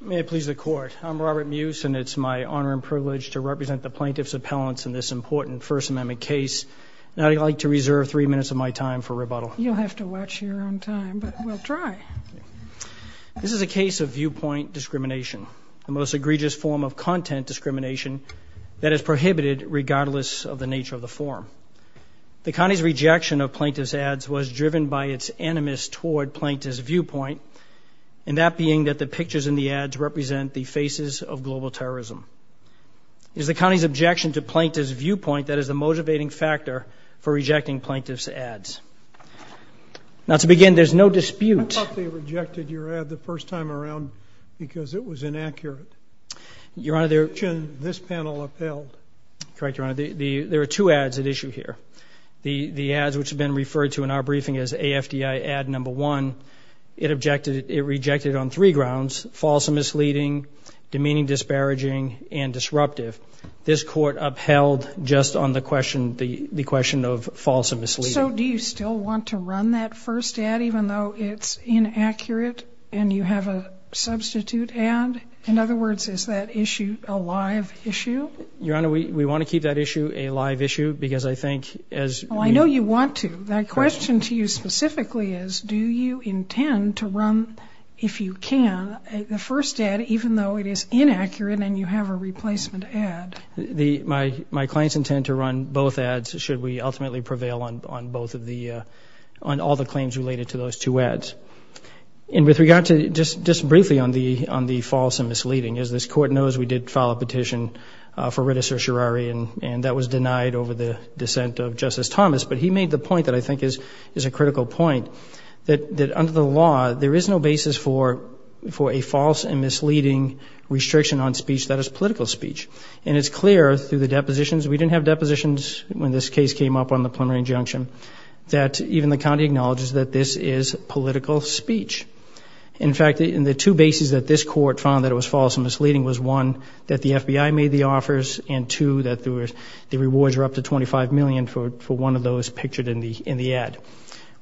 May it please the Court. I'm Robert Muse and it's my honor and privilege to represent the plaintiffs' appellants in this important First Amendment case. Now I'd like to reserve three minutes of my time for rebuttal. You'll have to watch your own time, but we'll try. This is a case of viewpoint discrimination, the most egregious form of content discrimination that is prohibited regardless of the nature of the form. The county's rejection of plaintiffs' ads was driven by its animus toward plaintiffs' viewpoint, and that being that the pictures in the ads represent the faces of global terrorism. It is the county's objection to plaintiffs' viewpoint that is the motivating factor for rejecting plaintiffs' ads. Now to begin, there's no dispute... I thought they rejected your ad the first time around because it was inaccurate. Your Honor, their... This panel upheld. Correct, Your Honor. There are two ads at issue here. The ads, which have been referred to in our briefing as AFDI ad number one, it objected, it founds false and misleading, demeaning, disparaging, and disruptive. This court upheld just on the question, the question of false and misleading. So do you still want to run that first ad even though it's inaccurate and you have a substitute ad? In other words, is that issue a live issue? Your Honor, we want to keep that issue a live issue because I think as... Well, I know you want to. That question to you specifically is, do you intend to run, if you can, the first ad even though it is inaccurate and you have a replacement ad? The... My clients intend to run both ads should we ultimately prevail on both of the... on all the claims related to those two ads. And with regard to... just briefly on the false and misleading. As this court knows, we did file a petition for Rita Certiorari and that was denied over the dissent of Justice Thomas, but he made the point that I think is a critical point, that under the law there is no basis for a false and misleading restriction on speech that is political speech. And it's clear through the depositions, we didn't have depositions when this case came up on the plenary injunction, that even the county acknowledges that this is political speech. In fact, in the two bases that this court found that it was false and misleading was one, that the FBI made the offers, and two, that there was... the rewards were up to 25 million for one of those pictured in the ad.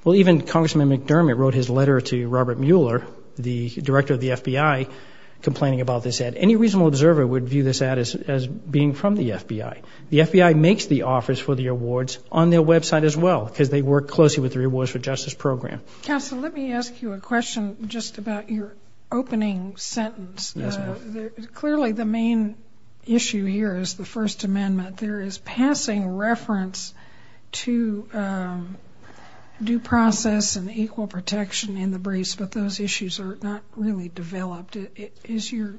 Well, even Congressman McDermott wrote his letter to Robert Mueller, the director of the FBI, complaining about this ad. Any reasonable observer would view this ad as being from the FBI. The FBI makes the offers for the awards on their website as well, because they work closely with the Rewards for Justice program. Counsel, let me ask you a question just about your opening sentence. Yes, ma'am. Clearly the main issue here is the First Amendment. There is passing reference to due process and equal protection in the briefs, but those issues are not really developed. Is your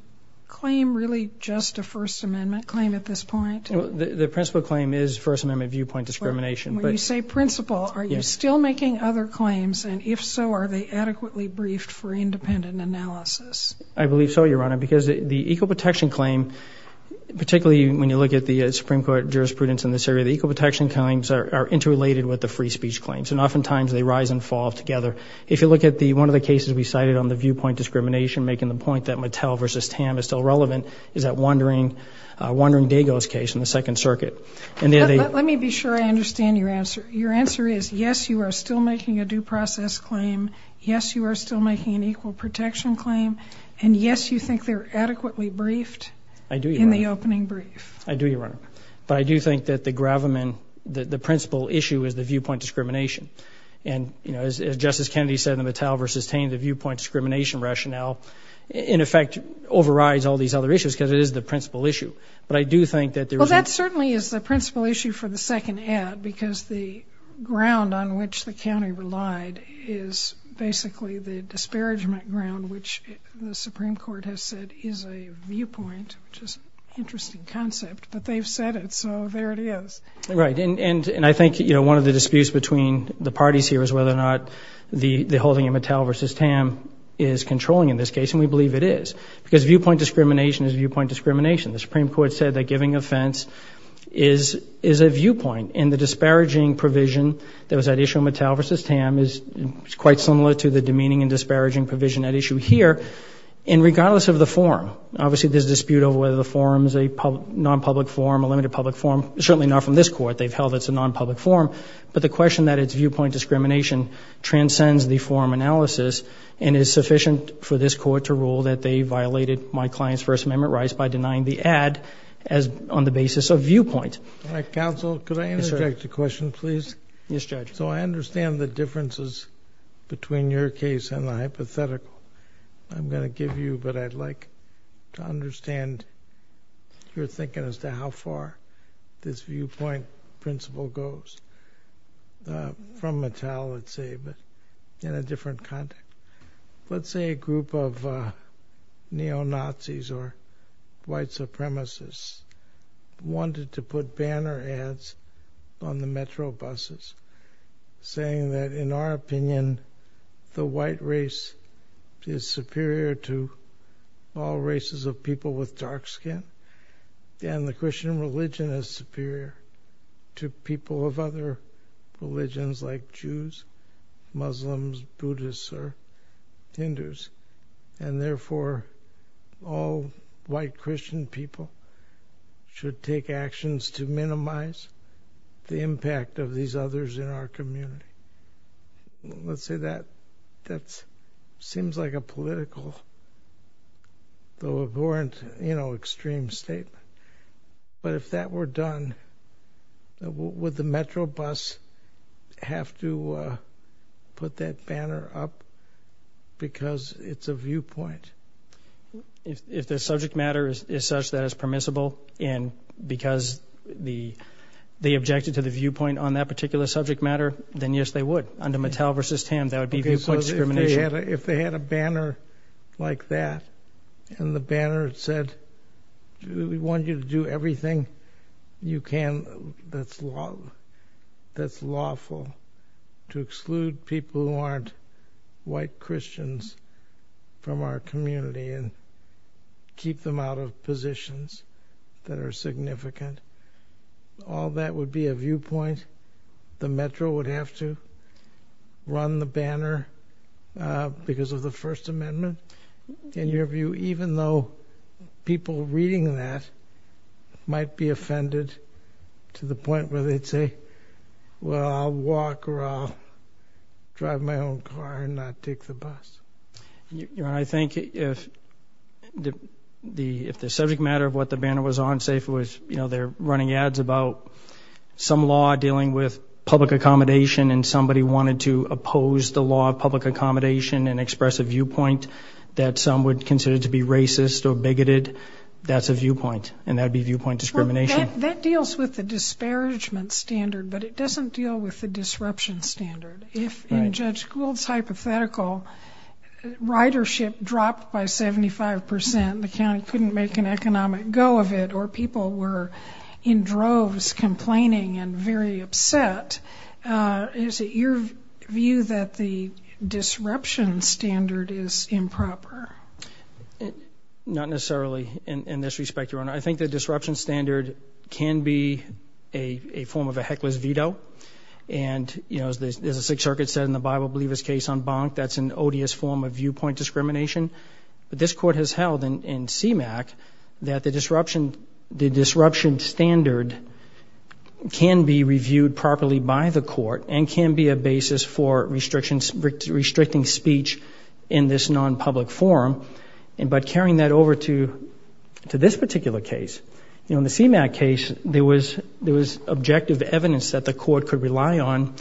claim really just a First Amendment claim at this point? The principle claim is First Amendment viewpoint discrimination. When you say principle, are you still making other claims, and if so, are they adequately briefed for independent analysis? I believe so, Your Honor, because the equal protection claim, particularly when you look at the Supreme Court jurisprudence in this area, the equal protection claims are interrelated with the free speech claims, and oftentimes they rise and fall together. If you look at the one of the cases we cited on the viewpoint discrimination, making the point that Mattel versus Tam is still relevant, is that Wandering Dago's case in the Second Circuit. Let me be sure I understand your answer. Your answer is, yes, you are still making a due process claim. Yes, you are still making an equal protection claim, and yes, you think they're adequately briefed in the opening brief. I do, Your Honor, but I do think that the gravamen, the principle issue, is the viewpoint discrimination, and, you know, as Justice Kennedy said, the Mattel versus Tam, the viewpoint discrimination rationale, in effect, overrides all these other issues because it is the principle issue, but I do think that there is... Well, that certainly is the principle issue for the second ad, because the ground on which the county relied is basically the disparagement ground, which the Supreme Court has said is a viewpoint, which is an interesting concept, but they've said it, so there it is. Right, and I think, you know, one of the disputes between the parties here is whether or not the holding of Mattel versus Tam is controlling in this case, and we believe it is, because viewpoint discrimination is viewpoint discrimination. The Supreme Court said that giving offense is a viewpoint, and the disparaging provision that was at issue in Mattel versus Tam is quite similar to the demeaning and disparaging provision at issue here, and regardless of the forum, obviously, there's dispute over whether the forum is a non-public forum, a limited public forum, certainly not from this court. They've held it's a non-public forum, but the question that it's viewpoint discrimination transcends the forum analysis, and it is sufficient for this court to rule that they violated my client's First Amendment rights by denying the ad as on the basis of viewpoint. All right, counsel, could I interject a question, please? Yes, judge. So I have two differences between your case and the hypothetical I'm going to give you, but I'd like to understand your thinking as to how far this viewpoint principle goes from Mattel, let's say, but in a different context. Let's say a group of neo-Nazis or white supremacists wanted to put banner ads on the metro buses, saying that, in our opinion, the white race is superior to all races of people with dark skin, and the Christian religion is superior to people of other religions like Jews, Muslims, Buddhists, or Hindus, and therefore all white others in our community. Let's say that that seems like a political, though ignorant, you know, extreme statement, but if that were done, would the metro bus have to put that banner up because it's a viewpoint? If the subject matter is such that it's permissible, and because they objected to the viewpoint on that particular subject matter, then yes, they would. Under Mattel v. Tam, that would be viewpoint discrimination. Okay, so if they had a banner like that, and the banner said, we want you to do everything you can that's lawful to exclude people who aren't white Christians from our community and keep them out of positions that are significant, all that would be a viewpoint. The metro would have to run the banner because of the First Amendment. In your view, even though people reading that might be offended to the point where they'd say, well, I'll walk or I'll drive my own car and not take the bus. I think if the subject matter of what the banner was on, say if it was, you know, they're running ads about some law dealing with public accommodation and somebody wanted to oppose the law of public accommodation and express a viewpoint that some would consider to be racist or bigoted, that's a viewpoint, and that'd be viewpoint discrimination. That deals with the disparagement standard, but it doesn't deal with the disruption standard. If in Gould's hypothetical, ridership dropped by 75%, the county couldn't make an economic go of it, or people were in droves complaining and very upset, is it your view that the disruption standard is improper? Not necessarily in this respect, Your Honor. I think the disruption standard can be a form of a case on Bonk, that's an odious form of viewpoint discrimination, but this court has held in CMAQ that the disruption standard can be reviewed properly by the court and can be a basis for restricting speech in this non-public forum. But carrying that over to this particular case, you know, in the CMAQ case, there was objective evidence that the court could rely on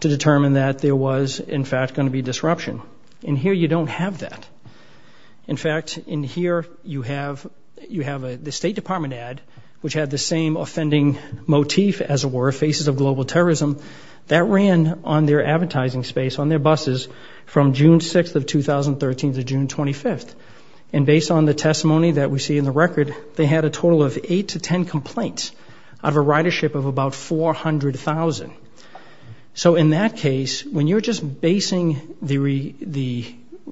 to determine that there was, in fact, going to be disruption. In here, you don't have that. In fact, in here, you have the State Department ad, which had the same offending motif, as it were, faces of global terrorism, that ran on their advertising space, on their buses, from June 6th of 2013 to June 25th. And based on the testimony that we see in the record, they had a total of eight to ten complaints out of a ridership of about 400,000. So in that case, when you're just basing the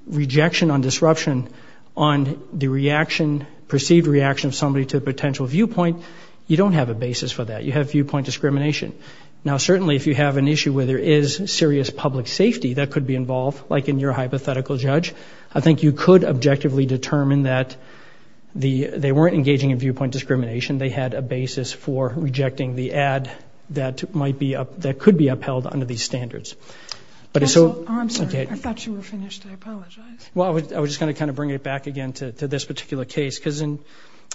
rejection on disruption on the reaction, perceived reaction of somebody to a potential viewpoint, you don't have a basis for that. You have viewpoint discrimination. Now certainly, if you have an issue where there is serious public safety that could be involved, like in your hypothetical judge, I think you could objectively determine that they had a basis for rejecting the ad that could be upheld under these standards. I'm sorry, I thought you were finished. I apologize. Well, I was just going to kind of bring it back again to this particular case, because in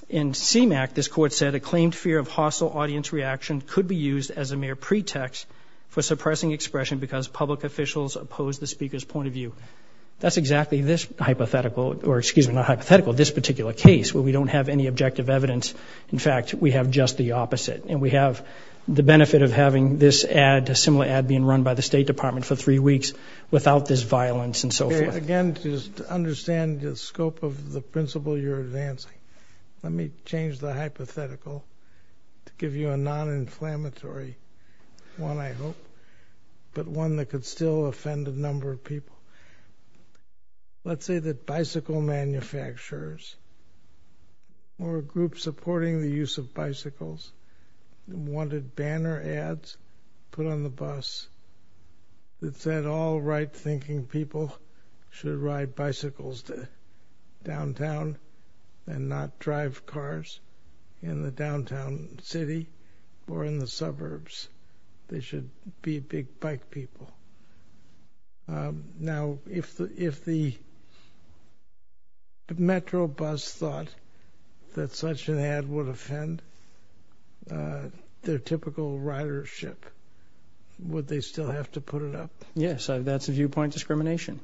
CMAQ, this court said, a claimed fear of hostile audience reaction could be used as a mere pretext for suppressing expression because public officials opposed the speaker's point of view. That's exactly this hypothetical, or excuse me, not hypothetical, this particular case, where we don't have any pretext, we have just the opposite. And we have the benefit of having this ad, a similar ad being run by the State Department for three weeks, without this violence and so forth. Again, to understand the scope of the principle you're advancing, let me change the hypothetical to give you a non-inflammatory one, I hope, but one that could still offend a number of people. Let's say that bicycle manufacturers or a group supporting the use of bicycles wanted banner ads put on the bus that said all right-thinking people should ride bicycles to downtown and not drive cars in the downtown city or in the suburbs. They should be big people. Now, if the Metro bus thought that such an ad would offend their typical ridership, would they still have to put it up? Yes, that's a viewpoint discrimination.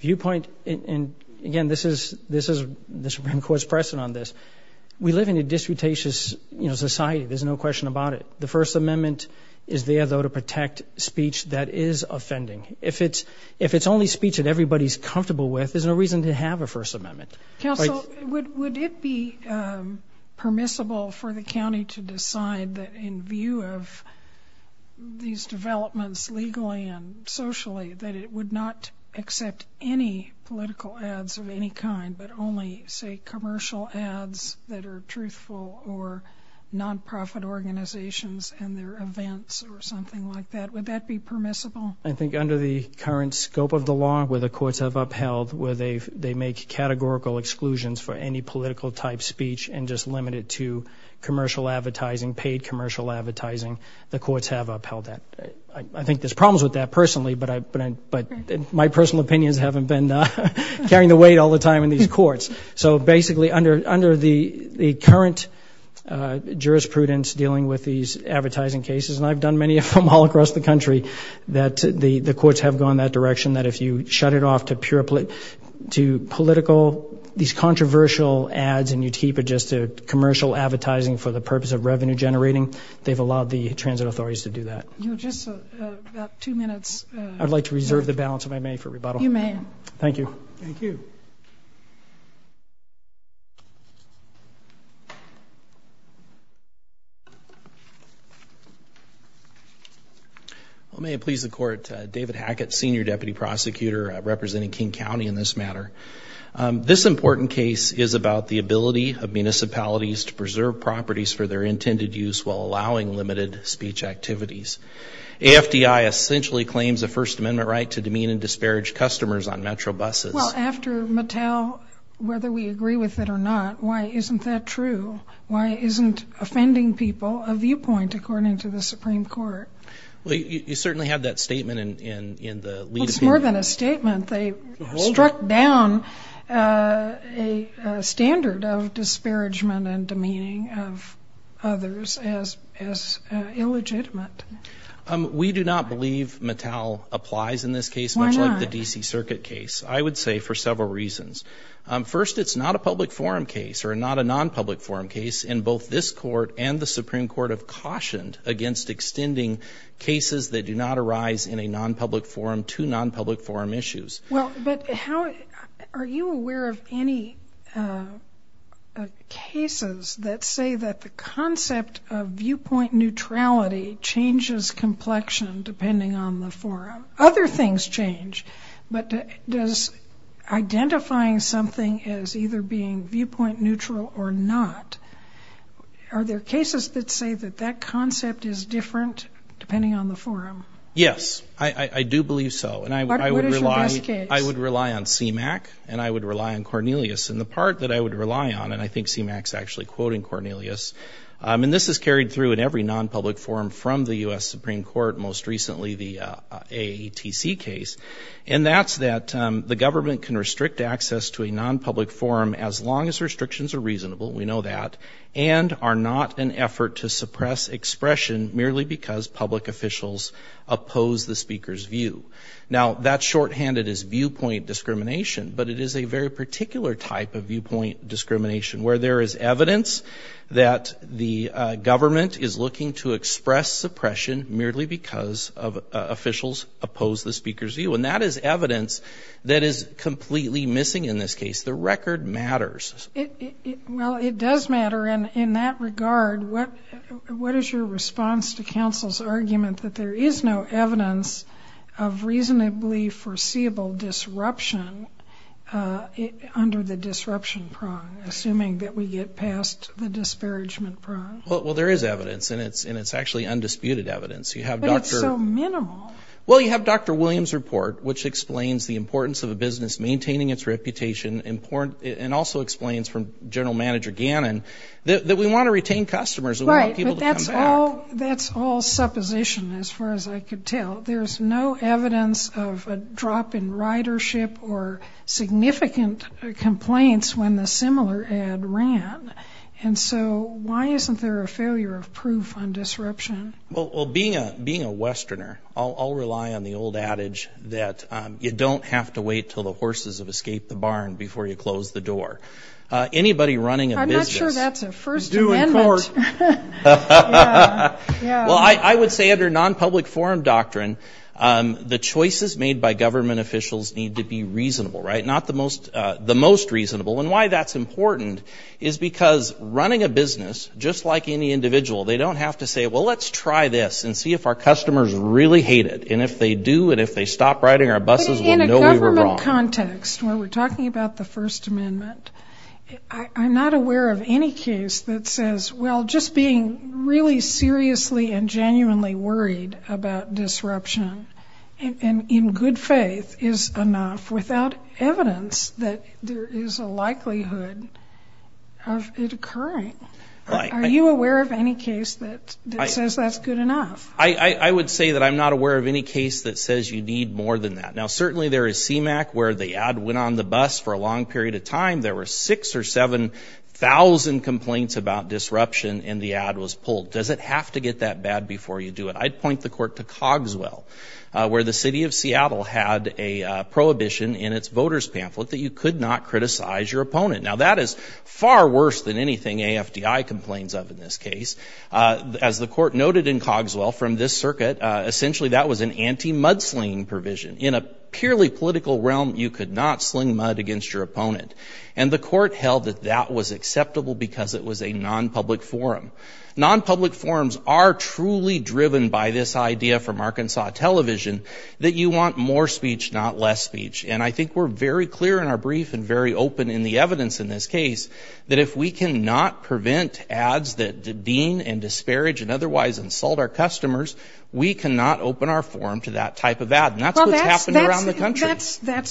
Viewpoint, and again, this is the Supreme Court's precedent on this. We live in a disputatious, you know, society. There's no question about it. The First Amendment is there, though, to protect speech that is offending. If it's only speech that everybody's comfortable with, there's no reason to have a First Amendment. Counsel, would it be permissible for the county to decide that in view of these developments legally and socially, that it would not accept any political ads of any kind, but only, say, commercial ads that are truthful or non-profit organizations and their events or something like that? Would that be permissible? I think under the current scope of the law, where the courts have upheld, where they make categorical exclusions for any political type speech and just limit it to commercial advertising, paid commercial advertising, the courts have upheld that. I think there's problems with that personally, but my personal opinions haven't been carrying the weight all the time in these courts. So basically, under the current jurisprudence dealing with these advertising cases, and I've done many of them all across the country, that the the courts have gone that direction, that if you shut it off to pure political, these controversial ads and you keep it just a commercial advertising for the purpose of revenue generating, they've allowed the transit authorities to do that. I'd like to reserve the balance of my money for rebuttal. You may. Thank you. Well, may it please the court, David Hackett, senior deputy prosecutor representing King County in this matter. This important case is about the ability of municipalities to preserve properties for their intended use while allowing limited speech activities. AFDI essentially claims a First Amendment right to demean and disparage customers on Metro buses. Well, after Mattel, whether we agree with it or not, why isn't that true? Why isn't offending people a viewpoint, according to the Supreme Court? Well, you certainly have that statement in the lead appeal. Well, it's more than a statement. They struck down a standard of disparagement and demeaning of others as illegitimate. We do not believe Mattel applies in this case, much like the DC Circuit case. I would say for several reasons. First, it's not a public forum case or not a non-public forum case. In both this court and the Supreme Court have cautioned against extending cases that do not arise in a non-public forum to non-public forum issues. Well, but how are you aware of any cases that say that the concept of viewpoint neutrality changes complexion depending on the forum? Other things change, but does identifying something as either being viewpoint neutral or not, are there cases that say that that concept is different depending on the forum? Yes, I do believe so. And I would rely on CMAQ and I would rely on Cornelius. And the part that I would rely on, and I think CMAQ's actually quoting Cornelius, and this is carried through in every non-public forum from the US Supreme Court, most that the government can restrict access to a non-public forum as long as restrictions are reasonable, we know that, and are not an effort to suppress expression merely because public officials oppose the speaker's view. Now that shorthanded is viewpoint discrimination, but it is a very particular type of viewpoint discrimination where there is evidence that the government is looking to express suppression merely because of is completely missing in this case. The record matters. Well, it does matter, and in that regard, what is your response to counsel's argument that there is no evidence of reasonably foreseeable disruption under the disruption prong, assuming that we get past the disparagement prong? Well, there is evidence, and it's actually undisputed evidence. But it's so the importance of a business maintaining its reputation, and also explains from General Manager Gannon, that we want to retain customers. Right, but that's all supposition as far as I could tell. There's no evidence of a drop in ridership or significant complaints when the similar ad ran, and so why isn't there a failure of proof on disruption? Well, being a have to wait till the horses have escaped the barn before you close the door. Anybody running a business... I'm not sure that's a First Amendment. It's due in court. Well, I would say under non-public forum doctrine, the choices made by government officials need to be reasonable, right? Not the most reasonable, and why that's important is because running a business, just like any individual, they don't have to say, well, let's try this and see if our customers really hate it. And if they do, and if they stop riding our buses, we'll know we were wrong. In a government context, when we're talking about the First Amendment, I'm not aware of any case that says, well, just being really seriously and genuinely worried about disruption, and in good faith, is enough, without evidence that there is a likelihood of it occurring. Are you aware of any case that says that's good enough? I would say that I'm not aware of any case that says you need more than that. Now, certainly there is CMAQ, where the ad went on the bus for a long period of time. There were six or seven thousand complaints about disruption, and the ad was pulled. Does it have to get that bad before you do it? I'd point the court to Cogswell, where the city of Seattle had a prohibition in its voters pamphlet that you could not criticize your opponent. Now, that is far worse than anything AFDI complains of in this case. As the court noted in Cogswell, from this circuit, essentially that was an anti-mud-slinging provision. In a purely political realm, you could not sling mud against your opponent, and the court held that that was acceptable because it was a non-public forum. Non-public forums are truly driven by this idea from Arkansas television that you want more speech, not less speech, and I think we're very clear in our brief and very open in the That's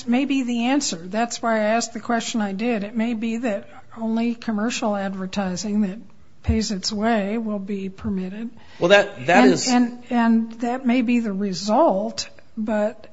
maybe the answer. That's why I asked the question I did. It may be that only commercial advertising that pays its way will be permitted, and that may be the result, but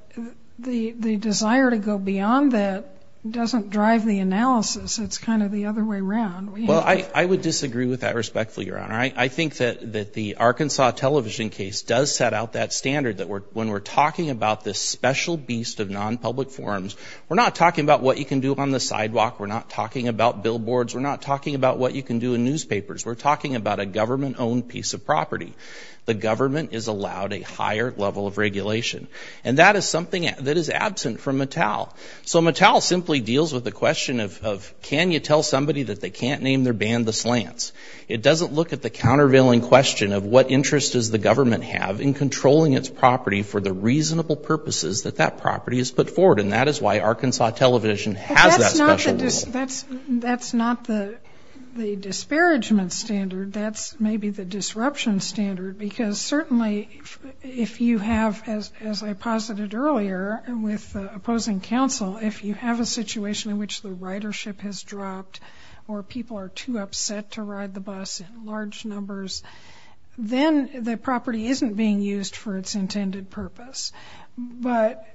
the desire to go beyond that doesn't drive the analysis. It's the other way around. Well, I would disagree with that respectfully, Your Honor. I think that the Arkansas television case does set out that standard that when we're talking about this special beast of non-public forums, we're not talking about what you can do on the sidewalk. We're not talking about billboards. We're not talking about what you can do in newspapers. We're talking about a government-owned piece of property. The government is allowed a higher level of regulation, and that is something that is absent from Mattel. So, when you tell somebody that they can't name their band The Slants, it doesn't look at the countervailing question of what interest does the government have in controlling its property for the reasonable purposes that that property is put forward, and that is why Arkansas television has that special rule. That's not the disparagement standard. That's maybe the disruption standard, because certainly if you have, as I posited earlier with opposing counsel, if you have a situation in which the ridership has dropped or people are too upset to ride the bus in large numbers, then the property isn't being used for its intended purpose. But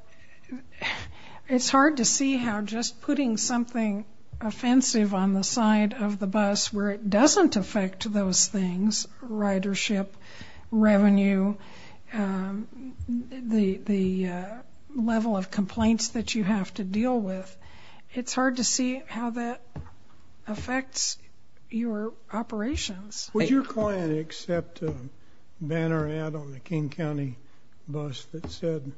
it's hard to see how just putting something offensive on the side of the bus where it doesn't affect those things, ridership, revenue, the level of complaints that you have to deal with, it's hard to see how that affects your operations. Would your client accept a banner ad on the King County bus that said,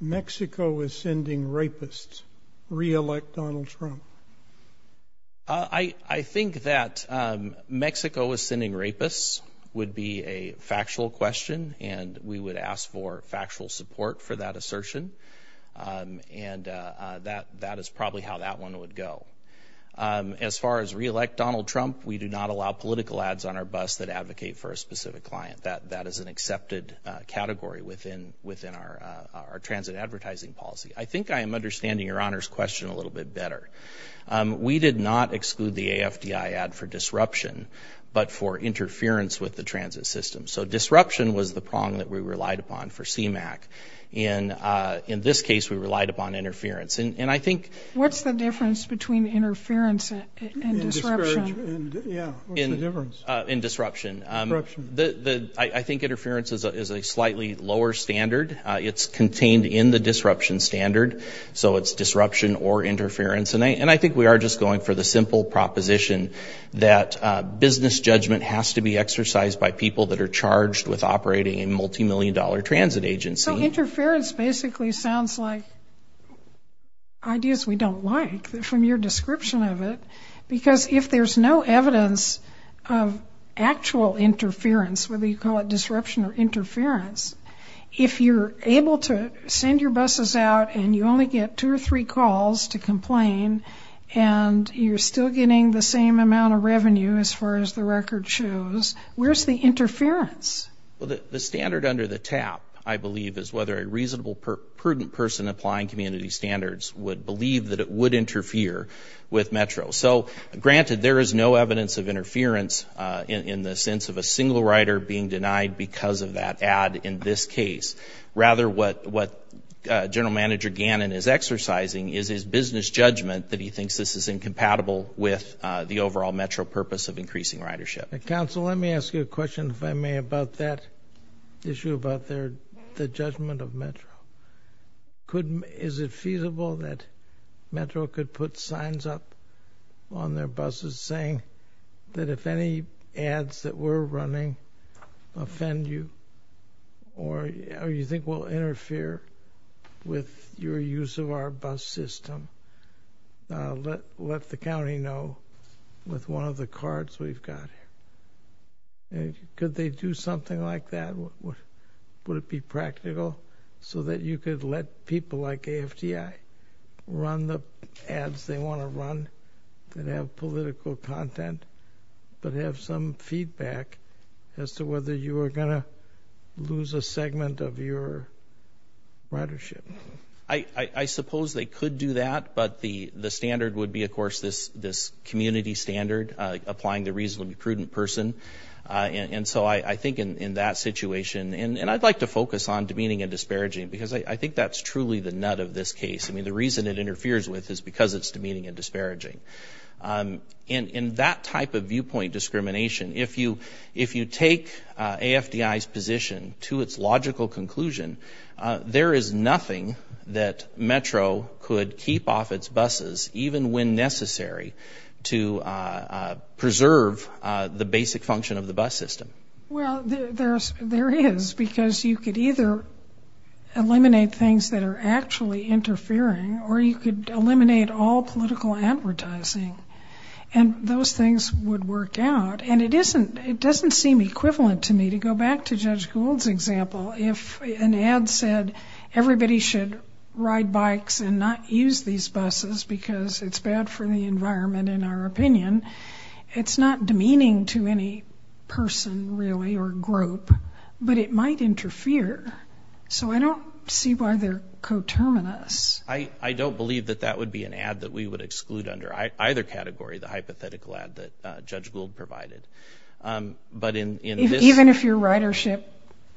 Mexico is sending rapists. Re-elect Donald Trump. I think that Mexico is sending rapists would be a factual question, and we would ask for factual support for that assertion, and that is probably how that one would go. As far as re-elect Donald Trump, we do not allow political ads on our bus that advocate for a specific client. That is an accepted category within our transit advertising policy. I think I am understanding your question a little bit better. We did not exclude the AFDI ad for disruption, but for interference with the transit system. So disruption was the prong that we relied upon for CMAQ. In this case, we relied upon interference. And I think... What's the difference between interference and disruption? In disruption, I think interference is a slightly lower standard. It's disruption or interference. And I think we are just going for the simple proposition that business judgment has to be exercised by people that are charged with operating a multi-million dollar transit agency. So interference basically sounds like ideas we don't like from your description of it, because if there's no evidence of actual interference, whether you call it disruption or interference, if you're able to send your buses out and you only get two or three calls to complain, and you're still getting the same amount of revenue as far as the record shows, where's the interference? The standard under the TAP, I believe, is whether a reasonable, prudent person applying community standards would believe that it would interfere with Metro. So granted, there is no evidence of interference in the sense of a single rider being denied because of that ad in this case. Rather, what General Manager Gannon is exercising is his business judgment that he thinks this is incompatible with the overall Metro purpose of increasing ridership. Counsel, let me ask you a question, if I may, about that issue about the judgment of Metro. Is it feasible that Metro could put signs up on their buses saying that if any ads that were running offend you or you think will interfere with your use of our bus system, let the county know with one of the cards we've got here. Could they do something like that? Would it be practical so that you could let people like AFTI run the ads they want to run that have political content, but have some feedback as to whether you are going to lose a segment of your ridership? I suppose they could do that, but the standard would be, of course, this community standard, applying the reasonable, prudent person. And so I think in that situation, and I'd like to focus on demeaning and disparaging, because I think that's truly the nut of this case. I mean, the reason it interferes with is because it's demeaning and disparaging. In that type of viewpoint discrimination, if you take AFTI's position to its logical conclusion, there is nothing that Metro could keep off its buses, even when necessary, to preserve the basic function of the bus system. Well, there is, because you could either eliminate things that are actually interfering, or you could eliminate all political advertising, and those things would work out. And it isn't, it doesn't seem equivalent to me, to go back to Judge Gould's example, if an ad said everybody should ride bikes and not use these buses because it's bad for the environment, in our opinion, it's not demeaning to any person, really, or group, but it might interfere. So I don't see why they're coterminous. I don't believe that that would be an ad that we would exclude under either category, the Even if your ridership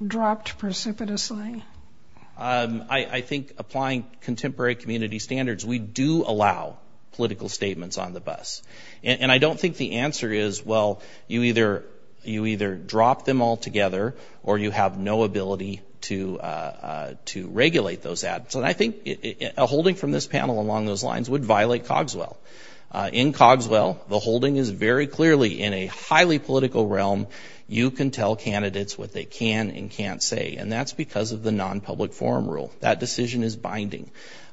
dropped precipitously? I think applying contemporary community standards, we do allow political statements on the bus. And I don't think the answer is, well, you either drop them all together, or you have no ability to regulate those ads. And I think a holding from this panel along those lines would violate Cogswell. In Cogswell, the holding is very clearly, in a highly political realm, you can tell candidates what they can and can't say. And that's because of the non-public forum rule. That decision is binding.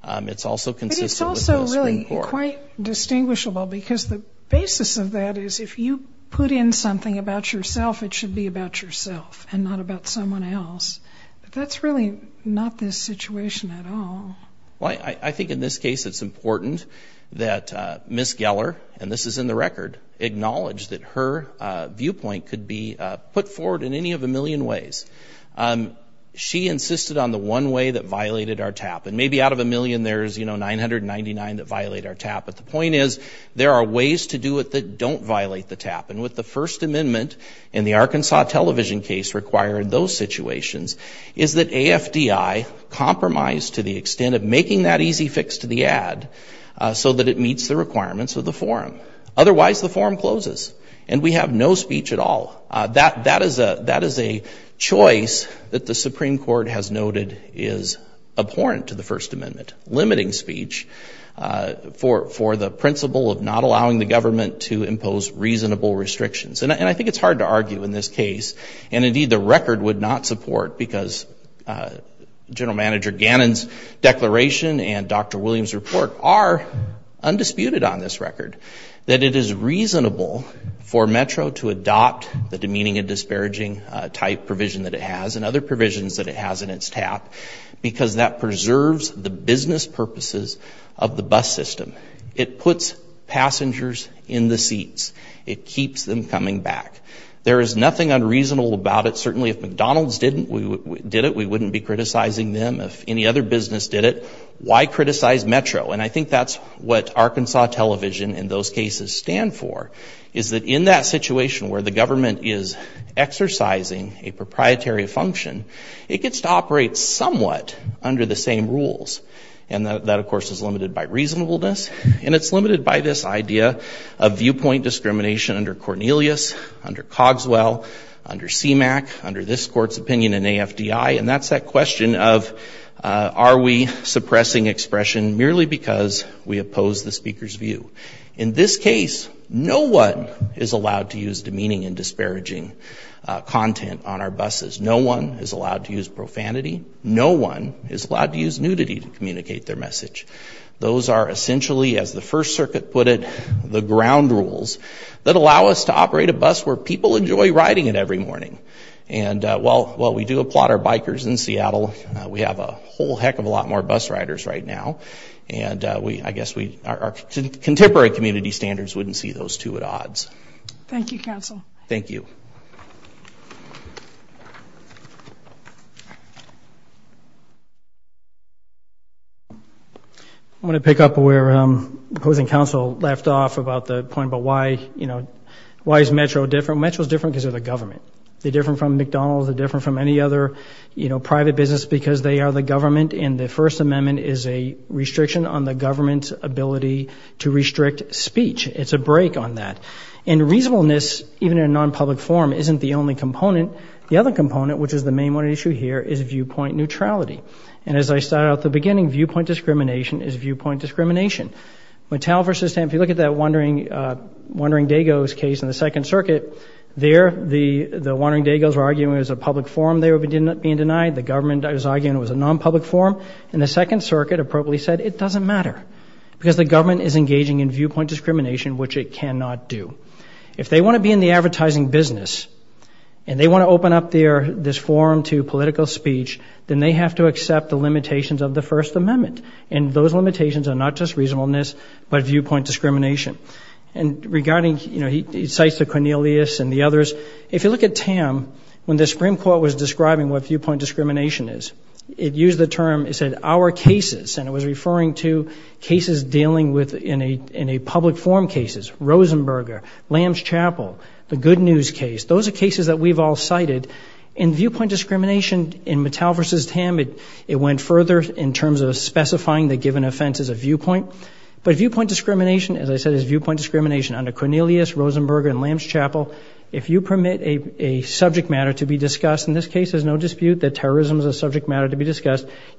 It's also consistent with the Supreme Court. But it's also really quite distinguishable, because the basis of that is, if you put in something about yourself, it should be about yourself, and not about someone else. That's really not this situation at all. Well, I think in this case, it's important that Ms. in the record acknowledge that her viewpoint could be put forward in any of a million ways. She insisted on the one way that violated our TAP. And maybe out of a million, there's, you know, 999 that violate our TAP. But the point is, there are ways to do it that don't violate the TAP. And with the First Amendment, and the Arkansas television case required those situations, is that AFDI compromised to the extent of making that easy fix to the ad, so that it meets the Otherwise, the forum closes. And we have no speech at all. That is a choice that the Supreme Court has noted is abhorrent to the First Amendment. Limiting speech for the principle of not allowing the government to impose reasonable restrictions. And I think it's hard to argue in this case. And indeed, the record would not support, because General Manager Gannon's declaration and undisputed on this record, that it is reasonable for Metro to adopt the demeaning and disparaging type provision that it has, and other provisions that it has in its TAP, because that preserves the business purposes of the bus system. It puts passengers in the seats. It keeps them coming back. There is nothing unreasonable about it. Certainly, if McDonald's didn't, we wouldn't be criticizing them. If any other business did it, why criticize Metro? And I think that's what Arkansas television in those cases stand for, is that in that situation where the government is exercising a proprietary function, it gets to operate somewhat under the same rules. And that, of course, is limited by reasonableness. And it's limited by this idea of viewpoint discrimination under Cornelius, under Cogswell, under CMAQ, under this court's opinion in AFDI. And that's that question of, are we suppressing expression merely because we oppose the speaker's view? In this case, no one is allowed to use demeaning and disparaging content on our buses. No one is allowed to use profanity. No one is allowed to use nudity to communicate their message. Those are essentially, as the First Circuit put it, the ground rules that allow us to operate a bus where people enjoy riding it every morning. And while we do applaud our bus drivers in Seattle, we have a whole heck of a lot more bus riders right now. And we, I guess, we, our contemporary community standards wouldn't see those two at odds. Thank you, counsel. Thank you. I'm going to pick up where opposing counsel left off about the point about why, you know, why is Metro different? Metro is different because of the government. They're different from McDonald's. They're different from any other, you know, private business because they are the government and the First Amendment is a restriction on the government's ability to restrict speech. It's a break on that. And reasonableness, even in a non-public forum, isn't the only component. The other component, which is the main one issue here, is viewpoint neutrality. And as I started out at the beginning, viewpoint discrimination is viewpoint discrimination. Mattel v. Stamp, if you look at that Wondering Dago's case in the Second Circuit, there the Wondering Dago's were arguing it was a government, I was arguing it was a non-public forum, and the Second Circuit appropriately said it doesn't matter because the government is engaging in viewpoint discrimination, which it cannot do. If they want to be in the advertising business and they want to open up their, this forum to political speech, then they have to accept the limitations of the First Amendment. And those limitations are not just reasonableness, but viewpoint discrimination. And regarding, you know, he cites the Cornelius and the others. If you look at Tam, when the viewpoint discrimination is, it used the term, it said, our cases, and it was referring to cases dealing with, in a public forum cases. Rosenberger, Lamb's Chapel, the Good News case, those are cases that we've all cited. In viewpoint discrimination, in Mattel v. Tam, it went further in terms of specifying the given offense as a viewpoint. But viewpoint discrimination, as I said, is viewpoint discrimination under Cornelius, Rosenberger, and Lamb's Chapel. If you subject matter to be discussed,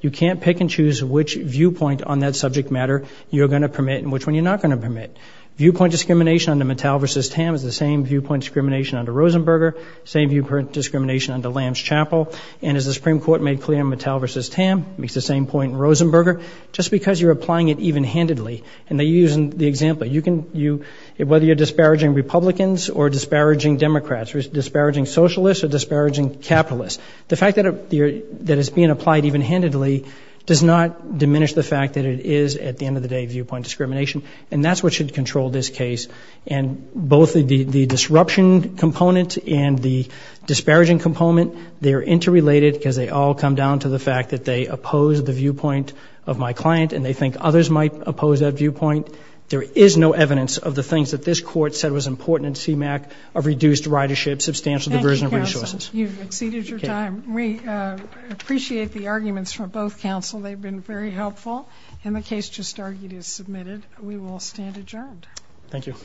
you can't pick and choose which viewpoint on that subject matter you're going to permit and which one you're not going to permit. Viewpoint discrimination under Mattel v. Tam is the same viewpoint discrimination under Rosenberger, same viewpoint discrimination under Lamb's Chapel. And as the Supreme Court made clear in Mattel v. Tam, makes the same point in Rosenberger, just because you're applying it even-handedly. And they use, in the example, you can, you, whether you're disparaging Republicans or disparaging Democrats, or disparaging Socialists, or disparaging Capitalists. The fact that it's being applied even-handedly does not diminish the fact that it is, at the end of the day, viewpoint discrimination. And that's what should control this case. And both the disruption component and the disparaging component, they're interrelated because they all come down to the fact that they oppose the viewpoint of my client and they think others might oppose that viewpoint. There is no evidence of the things that this court said was important in CMAQ of reduced ridership, substantial diversion of resources. You've exceeded your time. We appreciate the arguments from both counsel. They've been very helpful. And the case just argued is submitted. We will stand adjourned. Thank you.